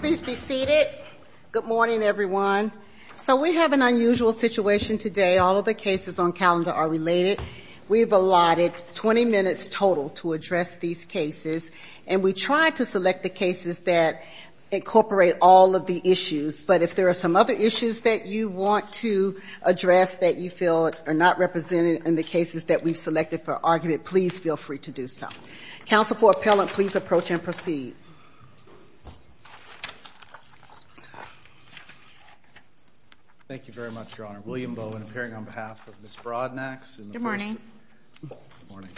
Please be seated. Good morning, everyone. So we have an unusual situation today. All of the cases on calendar are related. We've allotted 20 minutes total to address these cases, and we try to select the cases that incorporate all of the issues. But if there are some other issues that you want to address that you feel are not represented in the cases that we've selected for argument, please feel free to do so. Counsel for appellant, please approach and proceed. Thank you very much, Your Honor. William Bowen, appearing on behalf of Ms. Broadnax. Good morning. Good morning.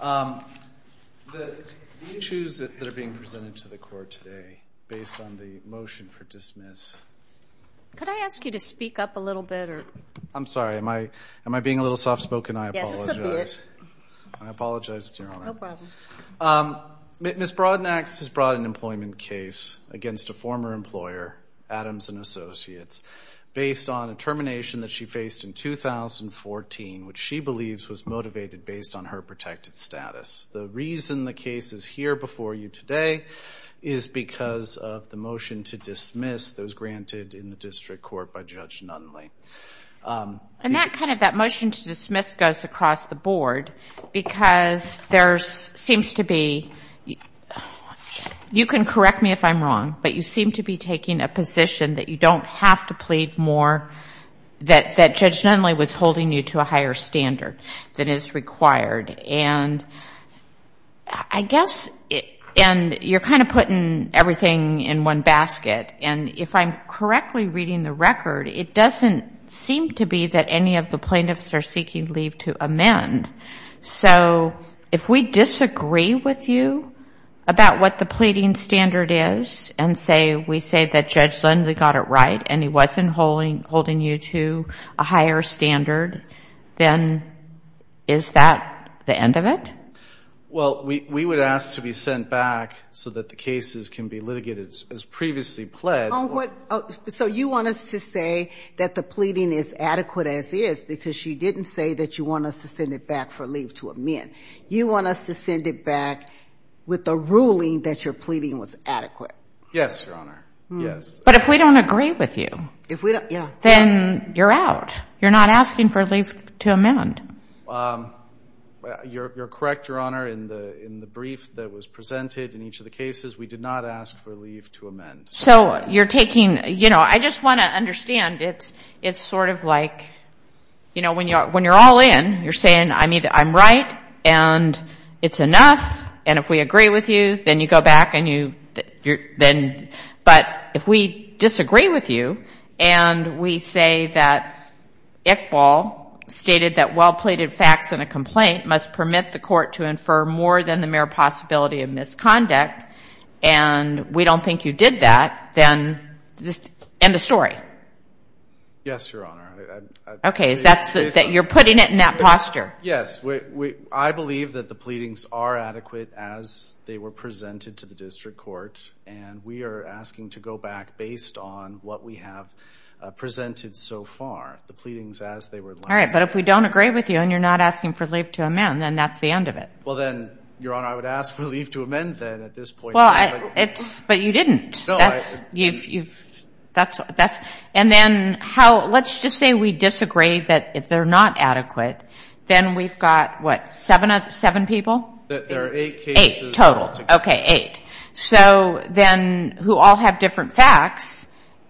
Thank you. The issues that are being presented to the court today, based on the motion for dismiss. Could I ask you to speak up a little bit? I'm sorry. Am I being a little soft spoken? I apologize. Just a bit. I apologize, Your Honor. No problem. Ms. Broadnax has brought an employment case against a former employer, Adams & Associates, based on a termination that she faced in 2014, which she believes was motivated based on her protected status. The reason the case is here before you today is because of the motion to dismiss that was granted in the district court by Judge Nunley. And that kind of that motion to dismiss goes across the board because there seems to be, you can correct me if I'm wrong, but you seem to be taking a position that you don't have to plead more, that Judge Nunley was holding you to a higher standard than is required. And I guess, and you're kind of putting everything in one basket. And if I'm correctly reading the record, it doesn't seem to be that any of the plaintiffs are seeking leave to amend. So if we disagree with you about what the pleading standard is and we say that Judge Nunley got it right and he wasn't holding you to a higher standard, then is that the end of it? Well, we would ask to be sent back so that the cases can be litigated as previously pledged. So you want us to say that the pleading is adequate as is because you didn't say that you want us to send it back for leave to amend. You want us to send it back with the ruling that your pleading was adequate. Yes, Your Honor. Yes. But if we don't agree with you, then you're out. You're not asking for leave to amend. You're correct, Your Honor. In the brief that was presented in each of the cases, we did not ask for leave to amend. So you're taking, you know, I just want to understand. It's sort of like, you know, when you're all in, you're saying, I mean, I'm right and it's enough. And if we agree with you, then you go back and you, then, but if we disagree with you and we say that Iqbal stated that well-pleaded facts in a complaint must permit the court to infer more than the mere possibility of misconduct and we don't think you did that, then end of story. Yes, Your Honor. Okay, so you're putting it in that posture. Yes. I believe that the pleadings are adequate as they were presented to the district court, and we are asking to go back based on what we have presented so far, the pleadings as they were. All right, but if we don't agree with you and you're not asking for leave to amend, then that's the end of it. Well, then, Your Honor, I would ask for leave to amend then at this point. Well, but you didn't. No, I. You've, that's, and then how, let's just say we disagree that they're not adequate. Then we've got, what, seven people? There are eight cases. Eight total. Okay, eight. So then who all have different facts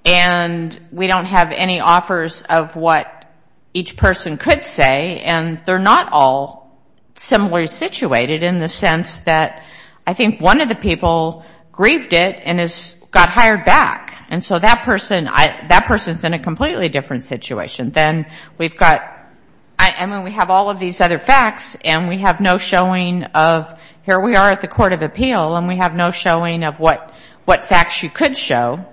and we don't have any offers of what each person could say and they're not all similarly situated in the sense that I think one of the people grieved it and got hired back. And so that person, that person's in a completely different situation. Then we've got, I mean, we have all of these other facts and we have no showing of, here we are at the Court of Appeal and we have no showing of what facts you could show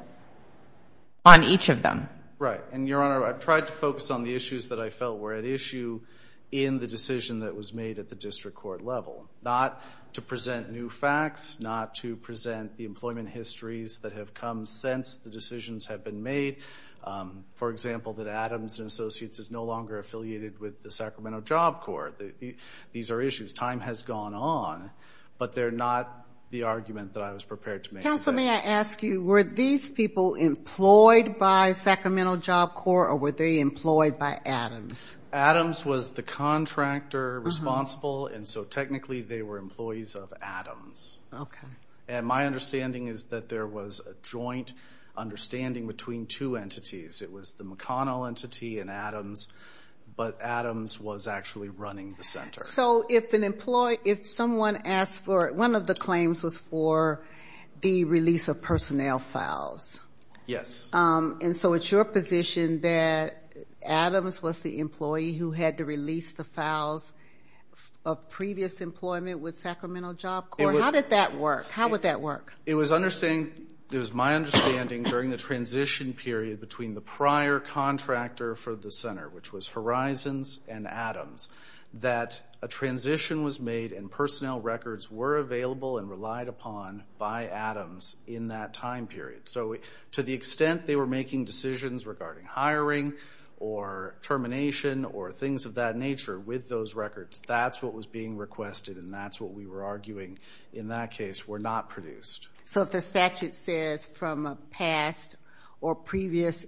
on each of them. Right, and, Your Honor, I've tried to focus on the issues that I felt were at issue in the decision that was made at the district court level, not to present new facts, not to present the employment histories that have come since the decisions have been made. For example, that Adams & Associates is no longer affiliated with the Sacramento Job Corps. These are issues. Time has gone on, but they're not the argument that I was prepared to make. Counsel, may I ask you, were these people employed by Sacramento Job Corps or were they employed by Adams? Adams was the contractor responsible, and so technically they were employees of Adams. Okay. And my understanding is that there was a joint understanding between two entities. It was the McConnell entity and Adams, but Adams was actually running the center. So if someone asked for it, one of the claims was for the release of personnel files. Yes. And so it's your position that Adams was the employee who had to release the files of previous employment with Sacramento Job Corps? How did that work? How would that work? It was my understanding during the transition period between the prior contractor for the center, which was Horizons and Adams, that a transition was made and personnel records were available and relied upon by Adams in that time period. So to the extent they were making decisions regarding hiring or termination or things of that nature with those records, that's what was being requested, and that's what we were arguing in that case were not produced. So if the statute says from a past or present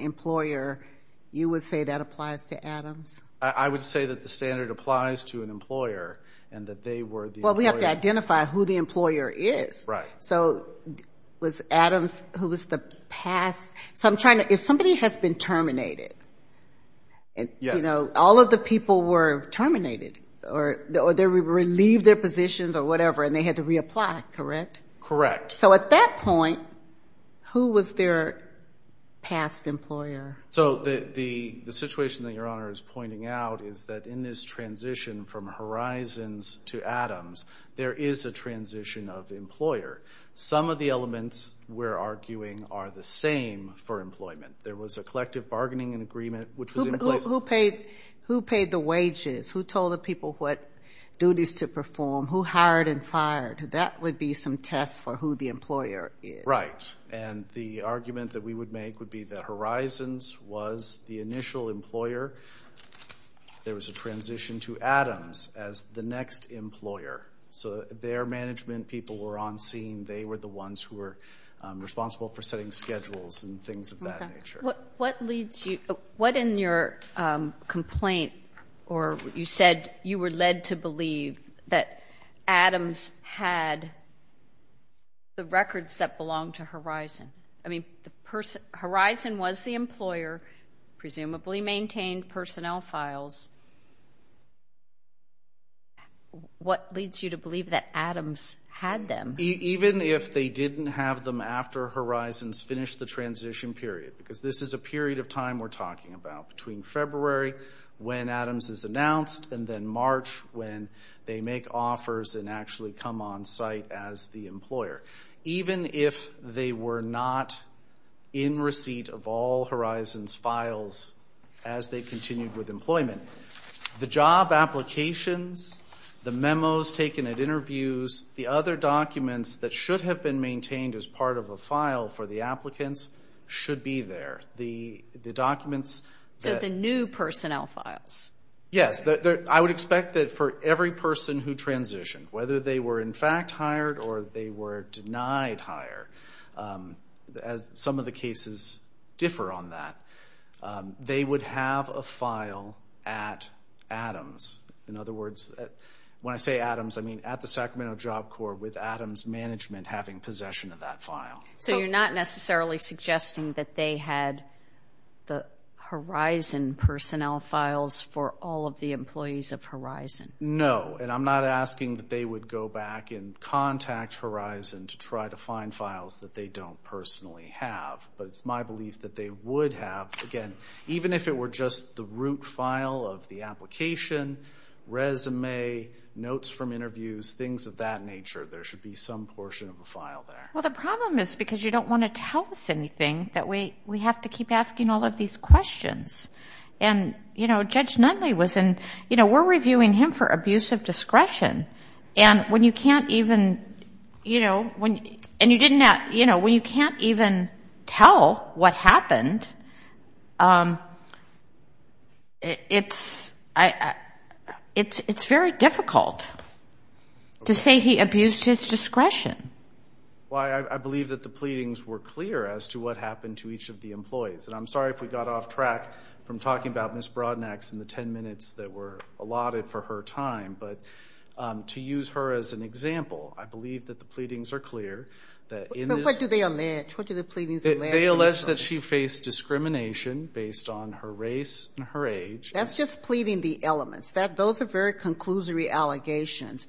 employer, you would say that applies to Adams? I would say that the standard applies to an employer and that they were the employer. Well, we have to identify who the employer is. Right. So was Adams who was the past? So if somebody has been terminated, you know, all of the people were terminated or they were relieved their positions or whatever and they had to reapply, correct? Correct. So at that point, who was their past employer? So the situation that Your Honor is pointing out is that in this transition from Horizons to Adams, there is a transition of employer. Some of the elements we're arguing are the same for employment. There was a collective bargaining agreement which was in place. Who paid the wages? Who told the people what duties to perform? Who hired and fired? That would be some test for who the employer is. Right. And the argument that we would make would be that Horizons was the initial employer. There was a transition to Adams as the next employer. So their management people were on scene. They were the ones who were responsible for setting schedules and things of that nature. What in your complaint or you said you were led to believe that Adams had the records that belonged to Horizon? I mean, Horizon was the employer, presumably maintained personnel files. What leads you to believe that Adams had them? Even if they didn't have them after Horizons finished the transition period, because this is a period of time we're talking about between February when Adams is announced and then March when they make offers and actually come on site as the employer. Even if they were not in receipt of all Horizons files as they continued with employment, the job applications, the memos taken at interviews, the other documents that should have been maintained as part of a file for the applicants should be there. The documents that- The new personnel files. Yes. I would expect that for every person who transitioned, whether they were in fact hired or they were denied hire, as some of the cases differ on that, they would have a file at Adams. In other words, when I say Adams, I mean at the Sacramento Job Corps with Adams Management having possession of that file. So you're not necessarily suggesting that they had the Horizon personnel files for all of the employees of Horizon? No. And I'm not asking that they would go back and contact Horizon to try to find files that they don't personally have. But it's my belief that they would have. Again, even if it were just the root file of the application, resume, notes from interviews, things of that nature, there should be some portion of a file there. Well, the problem is because you don't want to tell us anything that we have to keep asking all of these questions. And, you know, Judge Nunley was in-you know, we're reviewing him for abusive discretion. And when you can't even, you know, when you can't even tell what happened, it's very difficult to say he abused his discretion. Well, I believe that the pleadings were clear as to what happened to each of the employees. And I'm sorry if we got off track from talking about Ms. Brodnax and the ten minutes that were allotted for her time. But to use her as an example, I believe that the pleadings are clear. But what do they allege? What do the pleadings allege? They allege that she faced discrimination based on her race and her age. That's just pleading the elements. Those are very conclusory allegations.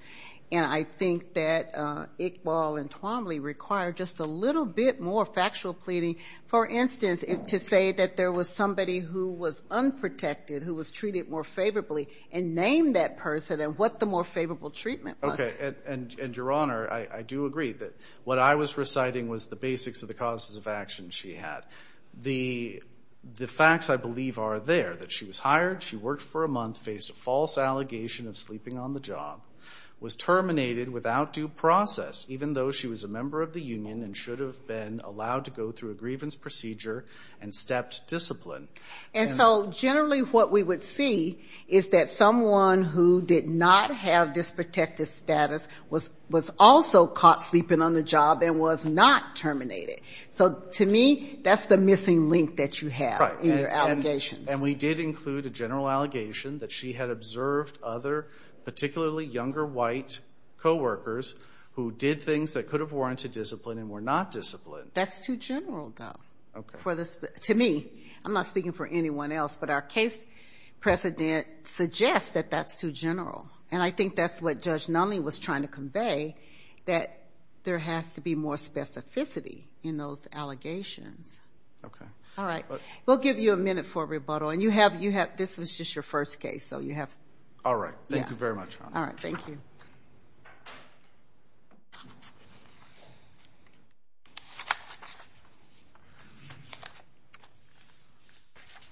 And I think that Iqbal and Twombly require just a little bit more factual pleading. For instance, to say that there was somebody who was unprotected, who was treated more favorably, and name that person and what the more favorable treatment was. Okay. And, Your Honor, I do agree that what I was reciting was the basics of the causes of action she had. The facts, I believe, are there, that she was hired, she worked for a month, faced a false allegation of sleeping on the job, was terminated without due process, even though she was a member of the union and should have been allowed to go through a grievance procedure and stepped discipline. And so generally what we would see is that someone who did not have this protective status was also caught sleeping on the job and was not terminated. So to me, that's the missing link that you have in your allegations. And we did include a general allegation that she had observed other, particularly younger white co-workers who did things that could have warranted discipline and were not disciplined. That's too general, though, to me. I'm not speaking for anyone else, but our case precedent suggests that that's too general. And I think that's what Judge Nunley was trying to convey, that there has to be more specificity in those allegations. All right. We'll give you a minute for a rebuttal. And you have, this was just your first case, so you have. All right. Thank you very much. All right. Thank you.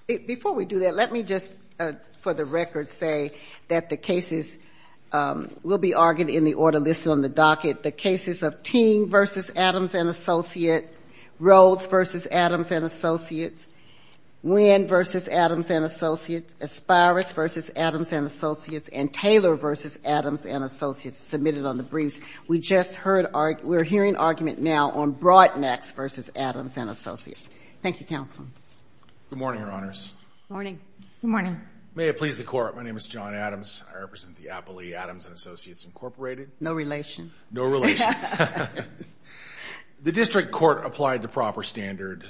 Before we do that, let me just, for the record, say that the cases will be argued in the order listed on the docket. The cases of Ting v. Adams & Associates, Rhodes v. Adams & Associates, Nguyen v. Adams & Associates, Aspires v. Adams & Associates, and Taylor v. Adams & Associates were submitted on the briefs. We just heard, we're hearing argument now on Broadnax v. Adams & Associates. Thank you, Counsel. Good morning, Your Honors. Good morning. Good morning. May it please the Court, my name is John Adams. I represent the Appley Adams & Associates Incorporated. No relation. No relation. The district court applied the proper standard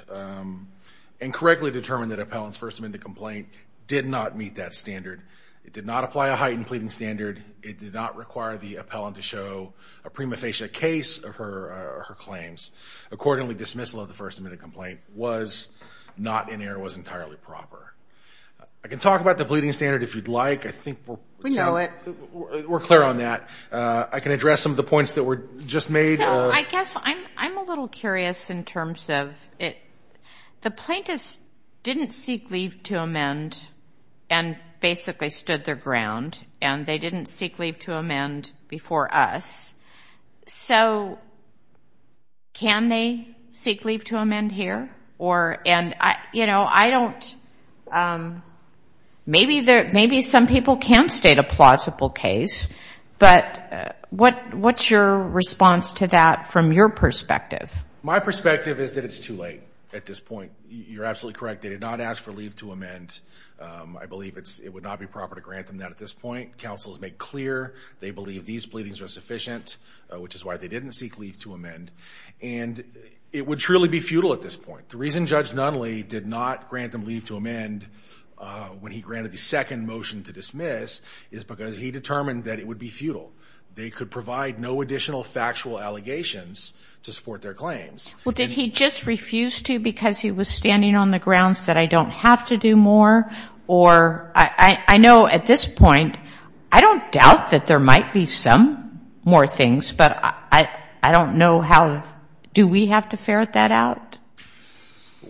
and correctly determined that appellant's first amendment complaint did not meet that standard. It did not apply a heightened pleading standard. It did not require the appellant to show a prima facie case of her claims. Accordingly, dismissal of the first amendment complaint was not in error, was entirely proper. I can talk about the pleading standard if you'd like. We know it. We're clear on that. I can address some of the points that were just made. I guess I'm a little curious in terms of it. The plaintiffs didn't seek leave to amend and basically stood their ground, and they didn't seek leave to amend before us. So can they seek leave to amend here? Maybe some people can state a plausible case, but what's your response to that from your perspective? My perspective is that it's too late at this point. You're absolutely correct. They did not ask for leave to amend. I believe it would not be proper to grant them that at this point. Counsel has made clear they believe these pleadings are sufficient, which is why they didn't seek leave to amend. And it would truly be futile at this point. The reason Judge Nunley did not grant them leave to amend when he granted the second motion to dismiss is because he determined that it would be futile. They could provide no additional factual allegations to support their claims. Well, did he just refuse to because he was standing on the grounds that I don't have to do more? Or I know at this point I don't doubt that there might be some more things, but I don't know how. Do we have to ferret that out?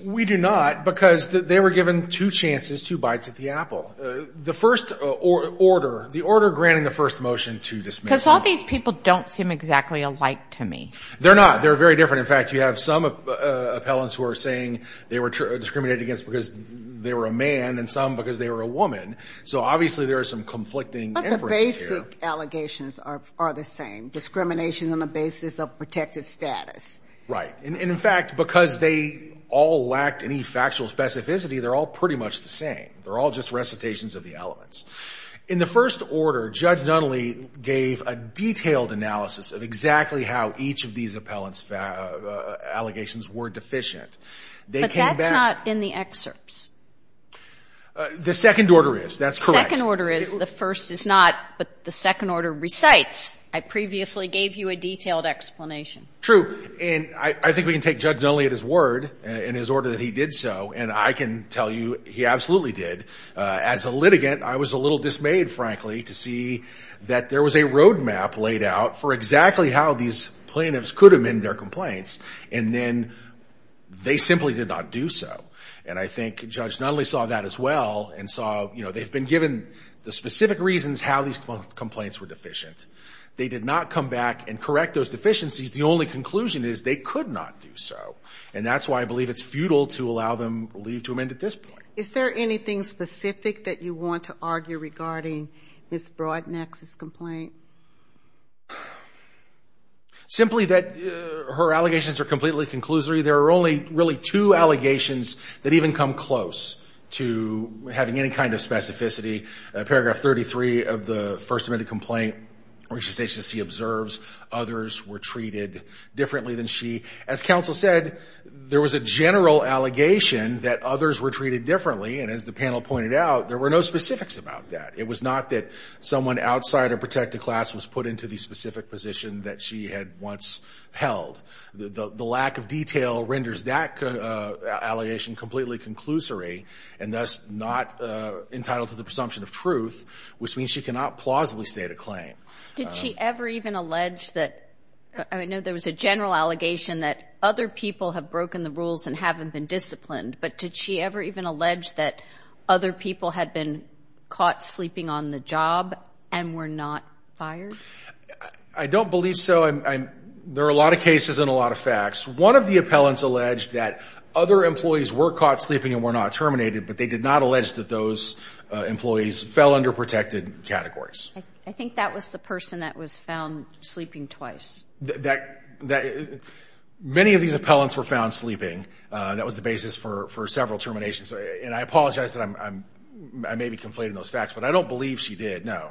We do not because they were given two chances, two bites at the apple. The first order, the order granting the first motion to dismiss. Because all these people don't seem exactly alike to me. They're not. They're very different. In fact, you have some appellants who are saying they were discriminated against because they were a man and some because they were a woman. So obviously there are some conflicting inferences here. But allegations are the same. Discrimination on the basis of protected status. Right. And in fact, because they all lacked any factual specificity, they're all pretty much the same. They're all just recitations of the elements. In the first order, Judge Nunley gave a detailed analysis of exactly how each of these appellants' allegations were deficient. They came back. But that's not in the excerpts. The second order is. That's correct. The second order is. The first is not. But the second order recites. I previously gave you a detailed explanation. True. And I think we can take Judge Nunley at his word in his order that he did so. And I can tell you he absolutely did. As a litigant, I was a little dismayed, frankly, to see that there was a roadmap laid out for exactly how these plaintiffs could amend their complaints. And then they simply did not do so. And I think Judge Nunley saw that as well and saw, you know, they've been given the specific reasons how these complaints were deficient. They did not come back and correct those deficiencies. The only conclusion is they could not do so. And that's why I believe it's futile to allow them leave to amend at this point. Is there anything specific that you want to argue regarding Ms. Broadnack's complaint? Simply that her allegations are completely conclusory. There are only really two allegations that even come close to having any kind of specificity. Paragraph 33 of the first amendment complaint, which the agency observes, others were treated differently than she. As counsel said, there was a general allegation that others were treated differently. And as the panel pointed out, there were no specifics about that. It was not that someone outside of protected class was put into the specific position that she had once held. The lack of detail renders that allegation completely conclusory and thus not entitled to the presumption of truth, which means she cannot plausibly state a claim. Did she ever even allege that – I know there was a general allegation that other people have broken the rules and haven't been disciplined, but did she ever even allege that other people had been caught sleeping on the job and were not fired? I don't believe so. There are a lot of cases and a lot of facts. One of the appellants alleged that other employees were caught sleeping and were not terminated, but they did not allege that those employees fell under protected categories. I think that was the person that was found sleeping twice. Many of these appellants were found sleeping. That was the basis for several terminations. And I apologize that I may be conflating those facts, but I don't believe she did, no.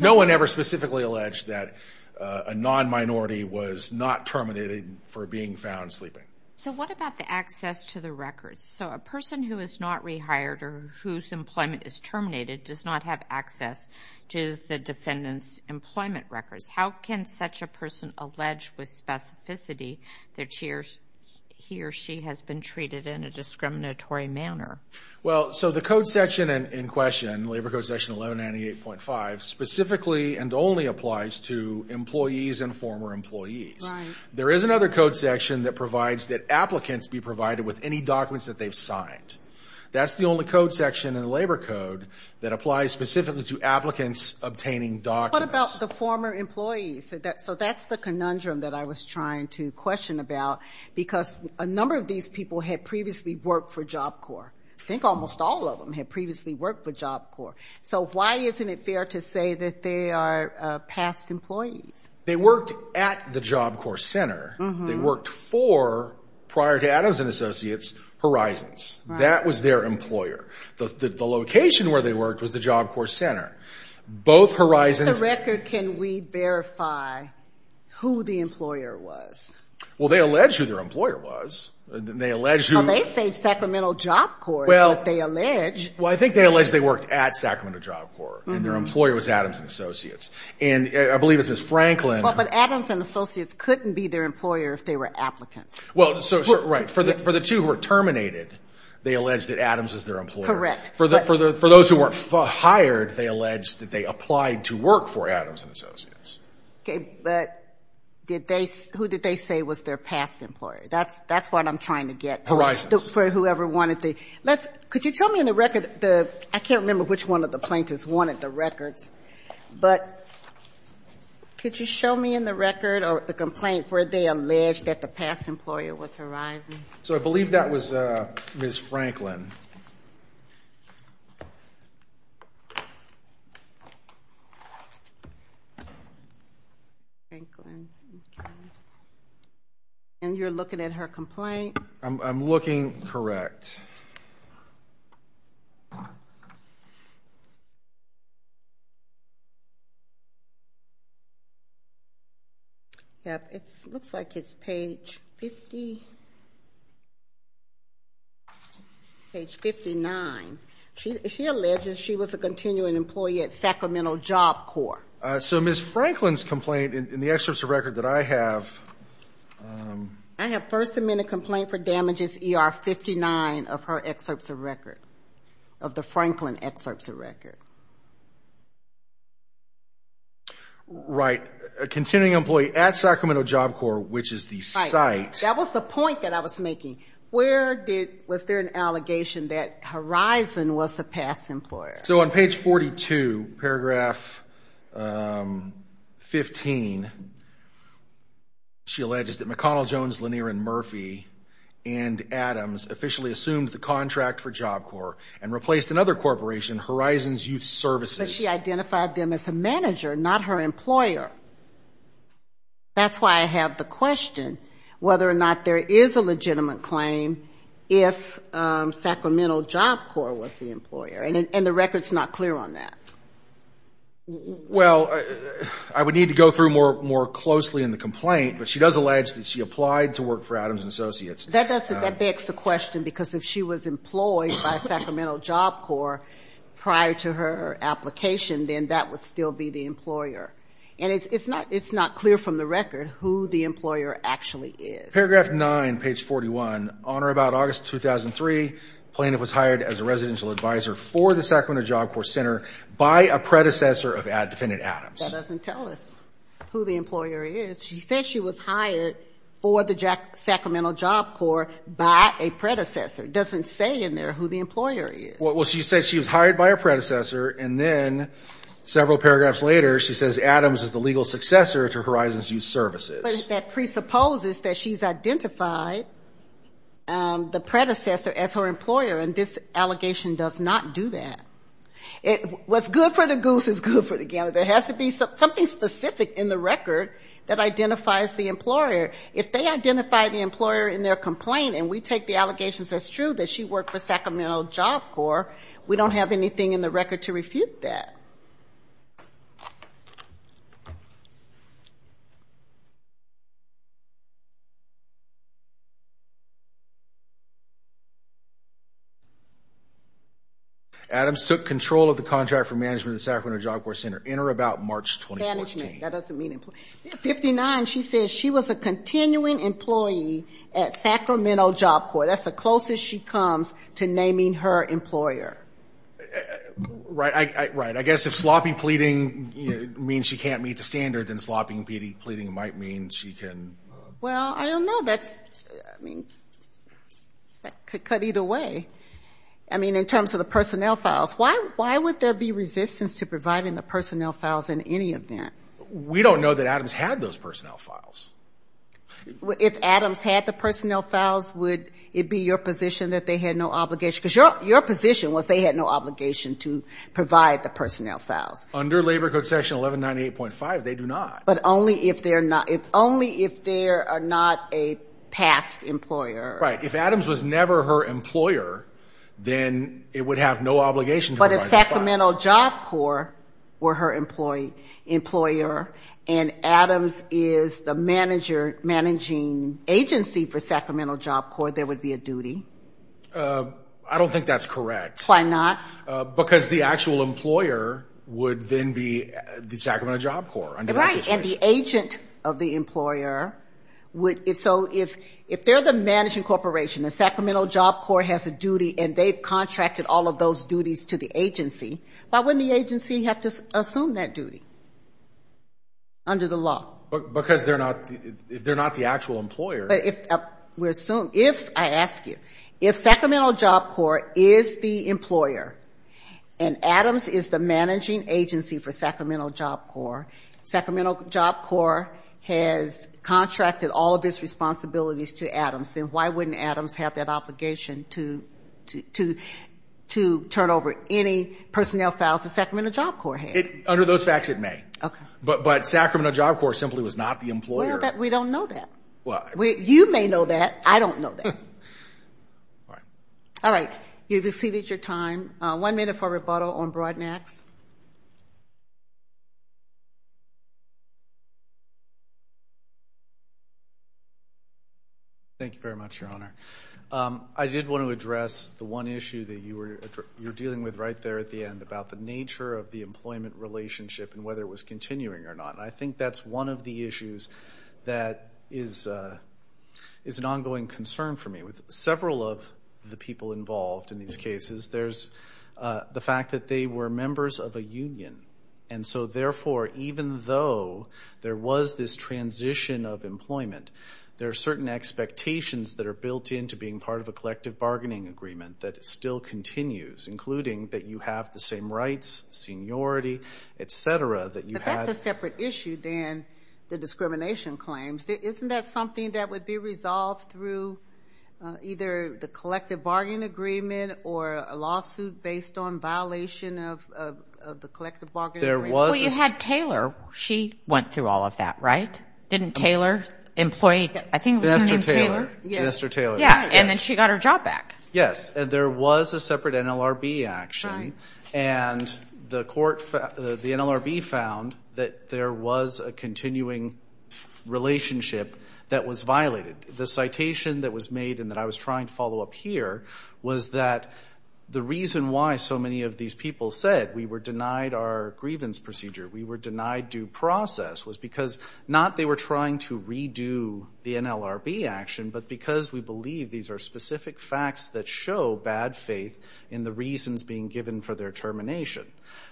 No one ever specifically alleged that a non-minority was not terminated for being found sleeping. So what about the access to the records? So a person who is not rehired or whose employment is terminated does not have access to the defendant's employment records. How can such a person allege with specificity that he or she has been treated in a discriminatory manner? Well, so the code section in question, Labor Code Section 1198.5, specifically and only applies to employees and former employees. Right. There is another code section that provides that applicants be provided with any documents that they've signed. That's the only code section in the Labor Code that applies specifically to applicants obtaining documents. What about the former employees? So that's the conundrum that I was trying to question about because a number of these people had previously worked for Job Corps. I think almost all of them had previously worked for Job Corps. So why isn't it fair to say that they are past employees? They worked at the Job Corps Center. They worked for, prior to Adams & Associates, Horizons. That was their employer. The location where they worked was the Job Corps Center. Both Horizons. In the record, can we verify who the employer was? Well, they allege who their employer was. They say Sacramento Job Corps, but they allege. Well, I think they allege they worked at Sacramento Job Corps, and their employer was Adams & Associates. I believe it was Franklin. But Adams & Associates couldn't be their employer if they were applicants. Right. For the two who were terminated, they allege that Adams was their employer. Correct. they allege that they applied to work for Adams & Associates. Okay, but did they, who did they say was their past employer? That's what I'm trying to get. Horizons. For whoever wanted the, let's, could you tell me in the record the, I can't remember which one of the plaintiffs wanted the records, but could you show me in the record or the complaint where they allege that the past employer was Horizons? So I believe that was Ms. Franklin. Franklin. And you're looking at her complaint? I'm looking. Correct. Yep, it looks like it's page 50. Page 59. She alleges she was a continuing employee at Sacramento Job Corps. So Ms. Franklin's complaint in the excerpts of record that I have. I have first amendment complaint for damages ER 59 of her excerpts of record, of the Franklin excerpts of record. Right. A continuing employee at Sacramento Job Corps, which is the site. That was the point that I was making. Where did, was there an allegation that Horizon was the past employer? So on page 42, paragraph 15, she alleges that McConnell, Jones, Lanier, and Murphy and Adams officially assumed the contract for Job Corps and replaced another corporation, Horizons Youth Services. But she identified them as a manager, not her employer. That's why I have the question whether or not there is a legitimate claim if Sacramento Job Corps was the employer. And the record's not clear on that. Well, I would need to go through more closely in the complaint, but she does allege that she applied to work for Adams and Associates. That begs the question because if she was employed by Sacramento Job Corps prior to her application, then that would still be the employer. And it's not clear from the record who the employer actually is. Paragraph 9, page 41. On or about August 2003, Plaintiff was hired as a residential advisor for the Sacramento Job Corps Center by a predecessor of defendant Adams. That doesn't tell us who the employer is. She said she was hired for the Sacramento Job Corps by a predecessor. It doesn't say in there who the employer is. Well, she said she was hired by her predecessor, and then several paragraphs later, she says Adams is the legal successor to Horizons Youth Services. But that presupposes that she's identified the predecessor as her employer, and this allegation does not do that. What's good for the goose is good for the game. There has to be something specific in the record that identifies the employer. If they identify the employer in their complaint, and we take the allegations as true that she worked for Sacramento Job Corps, we don't have anything in the record to refute that. All right. Adams took control of the contract for management of the Sacramento Job Corps Center, in or about March 2014. Management, that doesn't mean employee. Yeah, 59, she says she was a continuing employee at Sacramento Job Corps. That's the closest she comes to naming her employer. Right. I guess if sloppy pleading means she can't meet the standard, then sloppy pleading might mean she can. Well, I don't know. That's, I mean, that could cut either way. I mean, in terms of the personnel files, why would there be resistance to providing the personnel files in any event? We don't know that Adams had those personnel files. If Adams had the personnel files, would it be your position that they had no obligation? Because your position was they had no obligation to provide the personnel files. Under Labor Code Section 1198.5, they do not. But only if they are not a past employer. Right. If Adams was never her employer, then it would have no obligation to provide the files. But if Sacramento Job Corps were her employer and Adams is the managing agency for Sacramento Job Corps, there would be a duty? I don't think that's correct. Why not? Because the actual employer would then be the Sacramento Job Corps under that situation. Right. And the agent of the employer would. So if they're the managing corporation and Sacramento Job Corps has a duty and they've contracted all of those duties to the agency, why wouldn't the agency have to assume that duty under the law? Because they're not the actual employer. If I ask you, if Sacramento Job Corps is the employer and Adams is the managing agency for Sacramento Job Corps, Sacramento Job Corps has contracted all of its responsibilities to Adams, then why wouldn't Adams have that obligation to turn over any personnel files that Sacramento Job Corps had? Under those facts, it may. But Sacramento Job Corps simply was not the employer. We don't know that. You may know that. I don't know that. All right. You've exceeded your time. One minute for rebuttal on Broadnax. Thank you very much, Your Honor. I did want to address the one issue that you were dealing with right there at the end about the nature of the employment relationship and whether it was continuing or not. I think that's one of the issues that is an ongoing concern for me. With several of the people involved in these cases, there's the fact that they were members of a union. And so, therefore, even though there was this transition of employment, there are certain expectations that are built into being part of a collective bargaining agreement that still continues, including that you have the same rights, seniority, et cetera. But that's a separate issue than the discrimination claims. Isn't that something that would be resolved through either the collective bargaining agreement or a lawsuit based on violation of the collective bargaining agreement? Well, you had Taylor. She went through all of that, right? Didn't Taylor employ? I think her name was Taylor. Vanessa Taylor. Vanessa Taylor. And then she got her job back. Yes. And there was a separate NLRB action. And the NLRB found that there was a continuing relationship that was violated. The citation that was made and that I was trying to follow up here was that the reason why so many of these people said we were denied our grievance procedure, we were denied due process, was because not they were trying to redo the NLRB action, but because we believe these are specific facts that show bad faith in the reasons being given for their termination.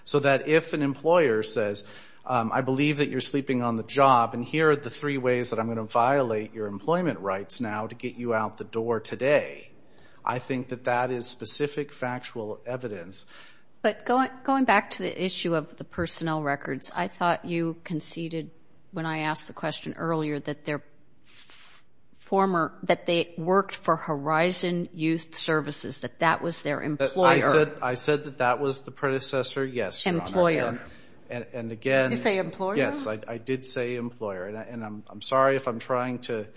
So that if an employer says, I believe that you're sleeping on the job, and here are the three ways that I'm going to violate your employment rights now to get you out the door today, I think that that is specific factual evidence. But going back to the issue of the personnel records, I thought you conceded when I asked the question earlier that they worked for Horizon Youth Services, that that was their employer. I said that that was the predecessor. Yes, Your Honor. Employer. Did you say employer? Yes, I did say employer. And I'm sorry if I'm trying to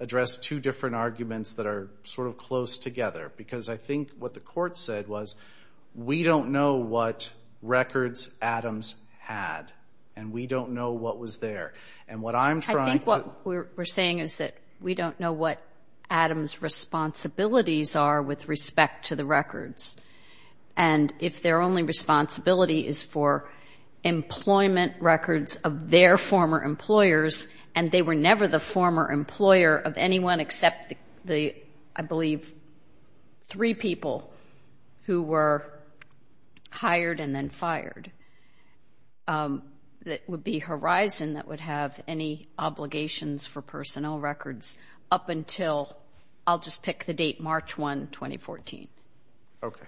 address two different arguments that are sort of close together, because I think what the court said was, we don't know what records Adams had, and we don't know what was there. And what I'm trying to do – I think what we're saying is that we don't know what Adams' responsibilities are with respect to the records. And if their only responsibility is for employment records of their former employers, and they were never the former employer of anyone except the, I believe, three people who were hired and then fired, that would be Horizon that would have any obligations for personnel records up until – I'll just pick the date, March 1, 2014. Okay.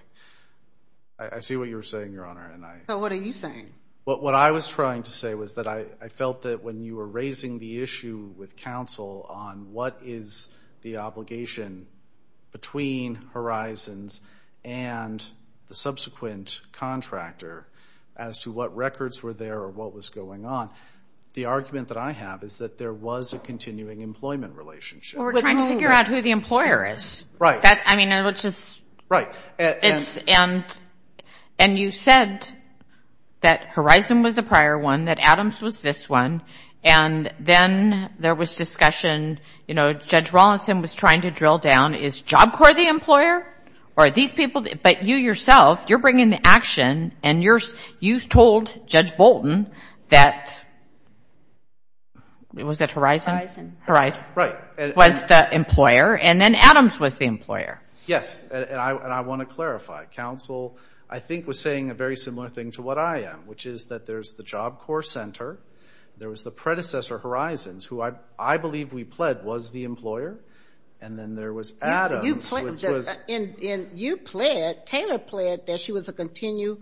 I see what you're saying, Your Honor. So what are you saying? What I was trying to say was that I felt that when you were raising the issue with counsel on what is the obligation between Horizons and the subsequent contractor as to what records were there or what was going on, the argument that I have is that there was a continuing employment relationship. Well, we're trying to figure out who the employer is. Right. I mean, it was just – Right. And you said that Horizon was the prior one, that Adams was this one, and then there was discussion, you know, Judge Rawlinson was trying to drill down, is Job Corps the employer or are these people – but you yourself, you're bringing the action and you told Judge Bolton that – was that Horizon? Horizon. Horizon. Right. Was the employer, and then Adams was the employer. Yes, and I want to clarify. Counsel, I think, was saying a very similar thing to what I am, which is that there's the Job Corps Center, there was the predecessor, Horizons, who I believe we pled was the employer, and then there was Adams, which was – And you pled, Taylor pled, that she was a continuing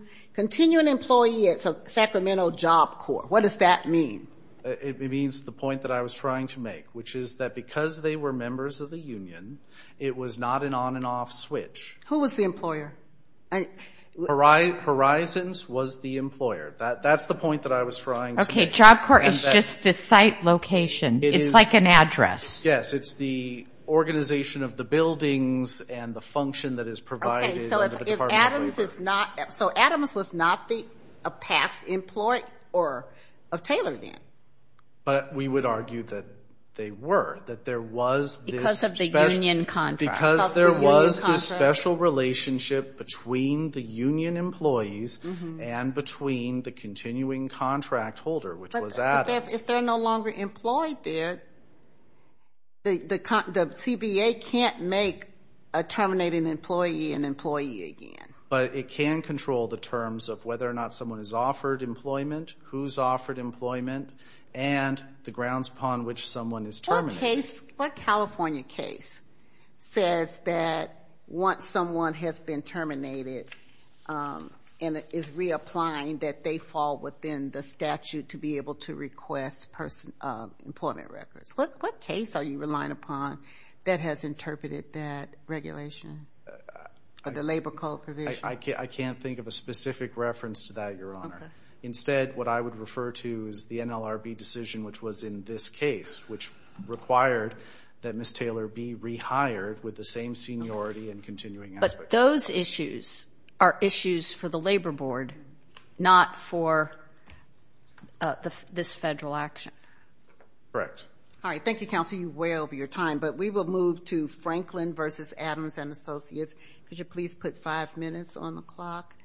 employee at Sacramento Job Corps. What does that mean? It means the point that I was trying to make, which is that because they were members of the union, it was not an on and off switch. Who was the employer? Horizons was the employer. That's the point that I was trying to make. Okay. Job Corps is just the site location. It's like an address. Yes. It's the organization of the buildings and the function that is provided under the Department of Labor. Okay. So Adams was not a past employee of Taylor then? But we would argue that they were, that there was this special – Because of the union contract. Because there was this special relationship between the union employees and between the continuing contract holder, which was Adams. But if they're no longer employed there, the CBA can't make a terminating employee an employee again. But it can control the terms of whether or not someone is offered employment, who's offered employment, and the grounds upon which someone is terminated. What California case says that once someone has been terminated and is reapplying, that they fall within the statute to be able to request employment records? What case are you relying upon that has interpreted that regulation or the labor code provision? I can't think of a specific reference to that, Your Honor. Instead, what I would refer to is the NLRB decision, which was in this case, which required that Ms. Taylor be rehired with the same seniority and continuing aspect. But those issues are issues for the Labor Board, not for this federal action. Correct. All right, thank you, Counsel. You're way over your time. But we will move to Franklin v. Adams & Associates. Could you please put five minutes on the clock?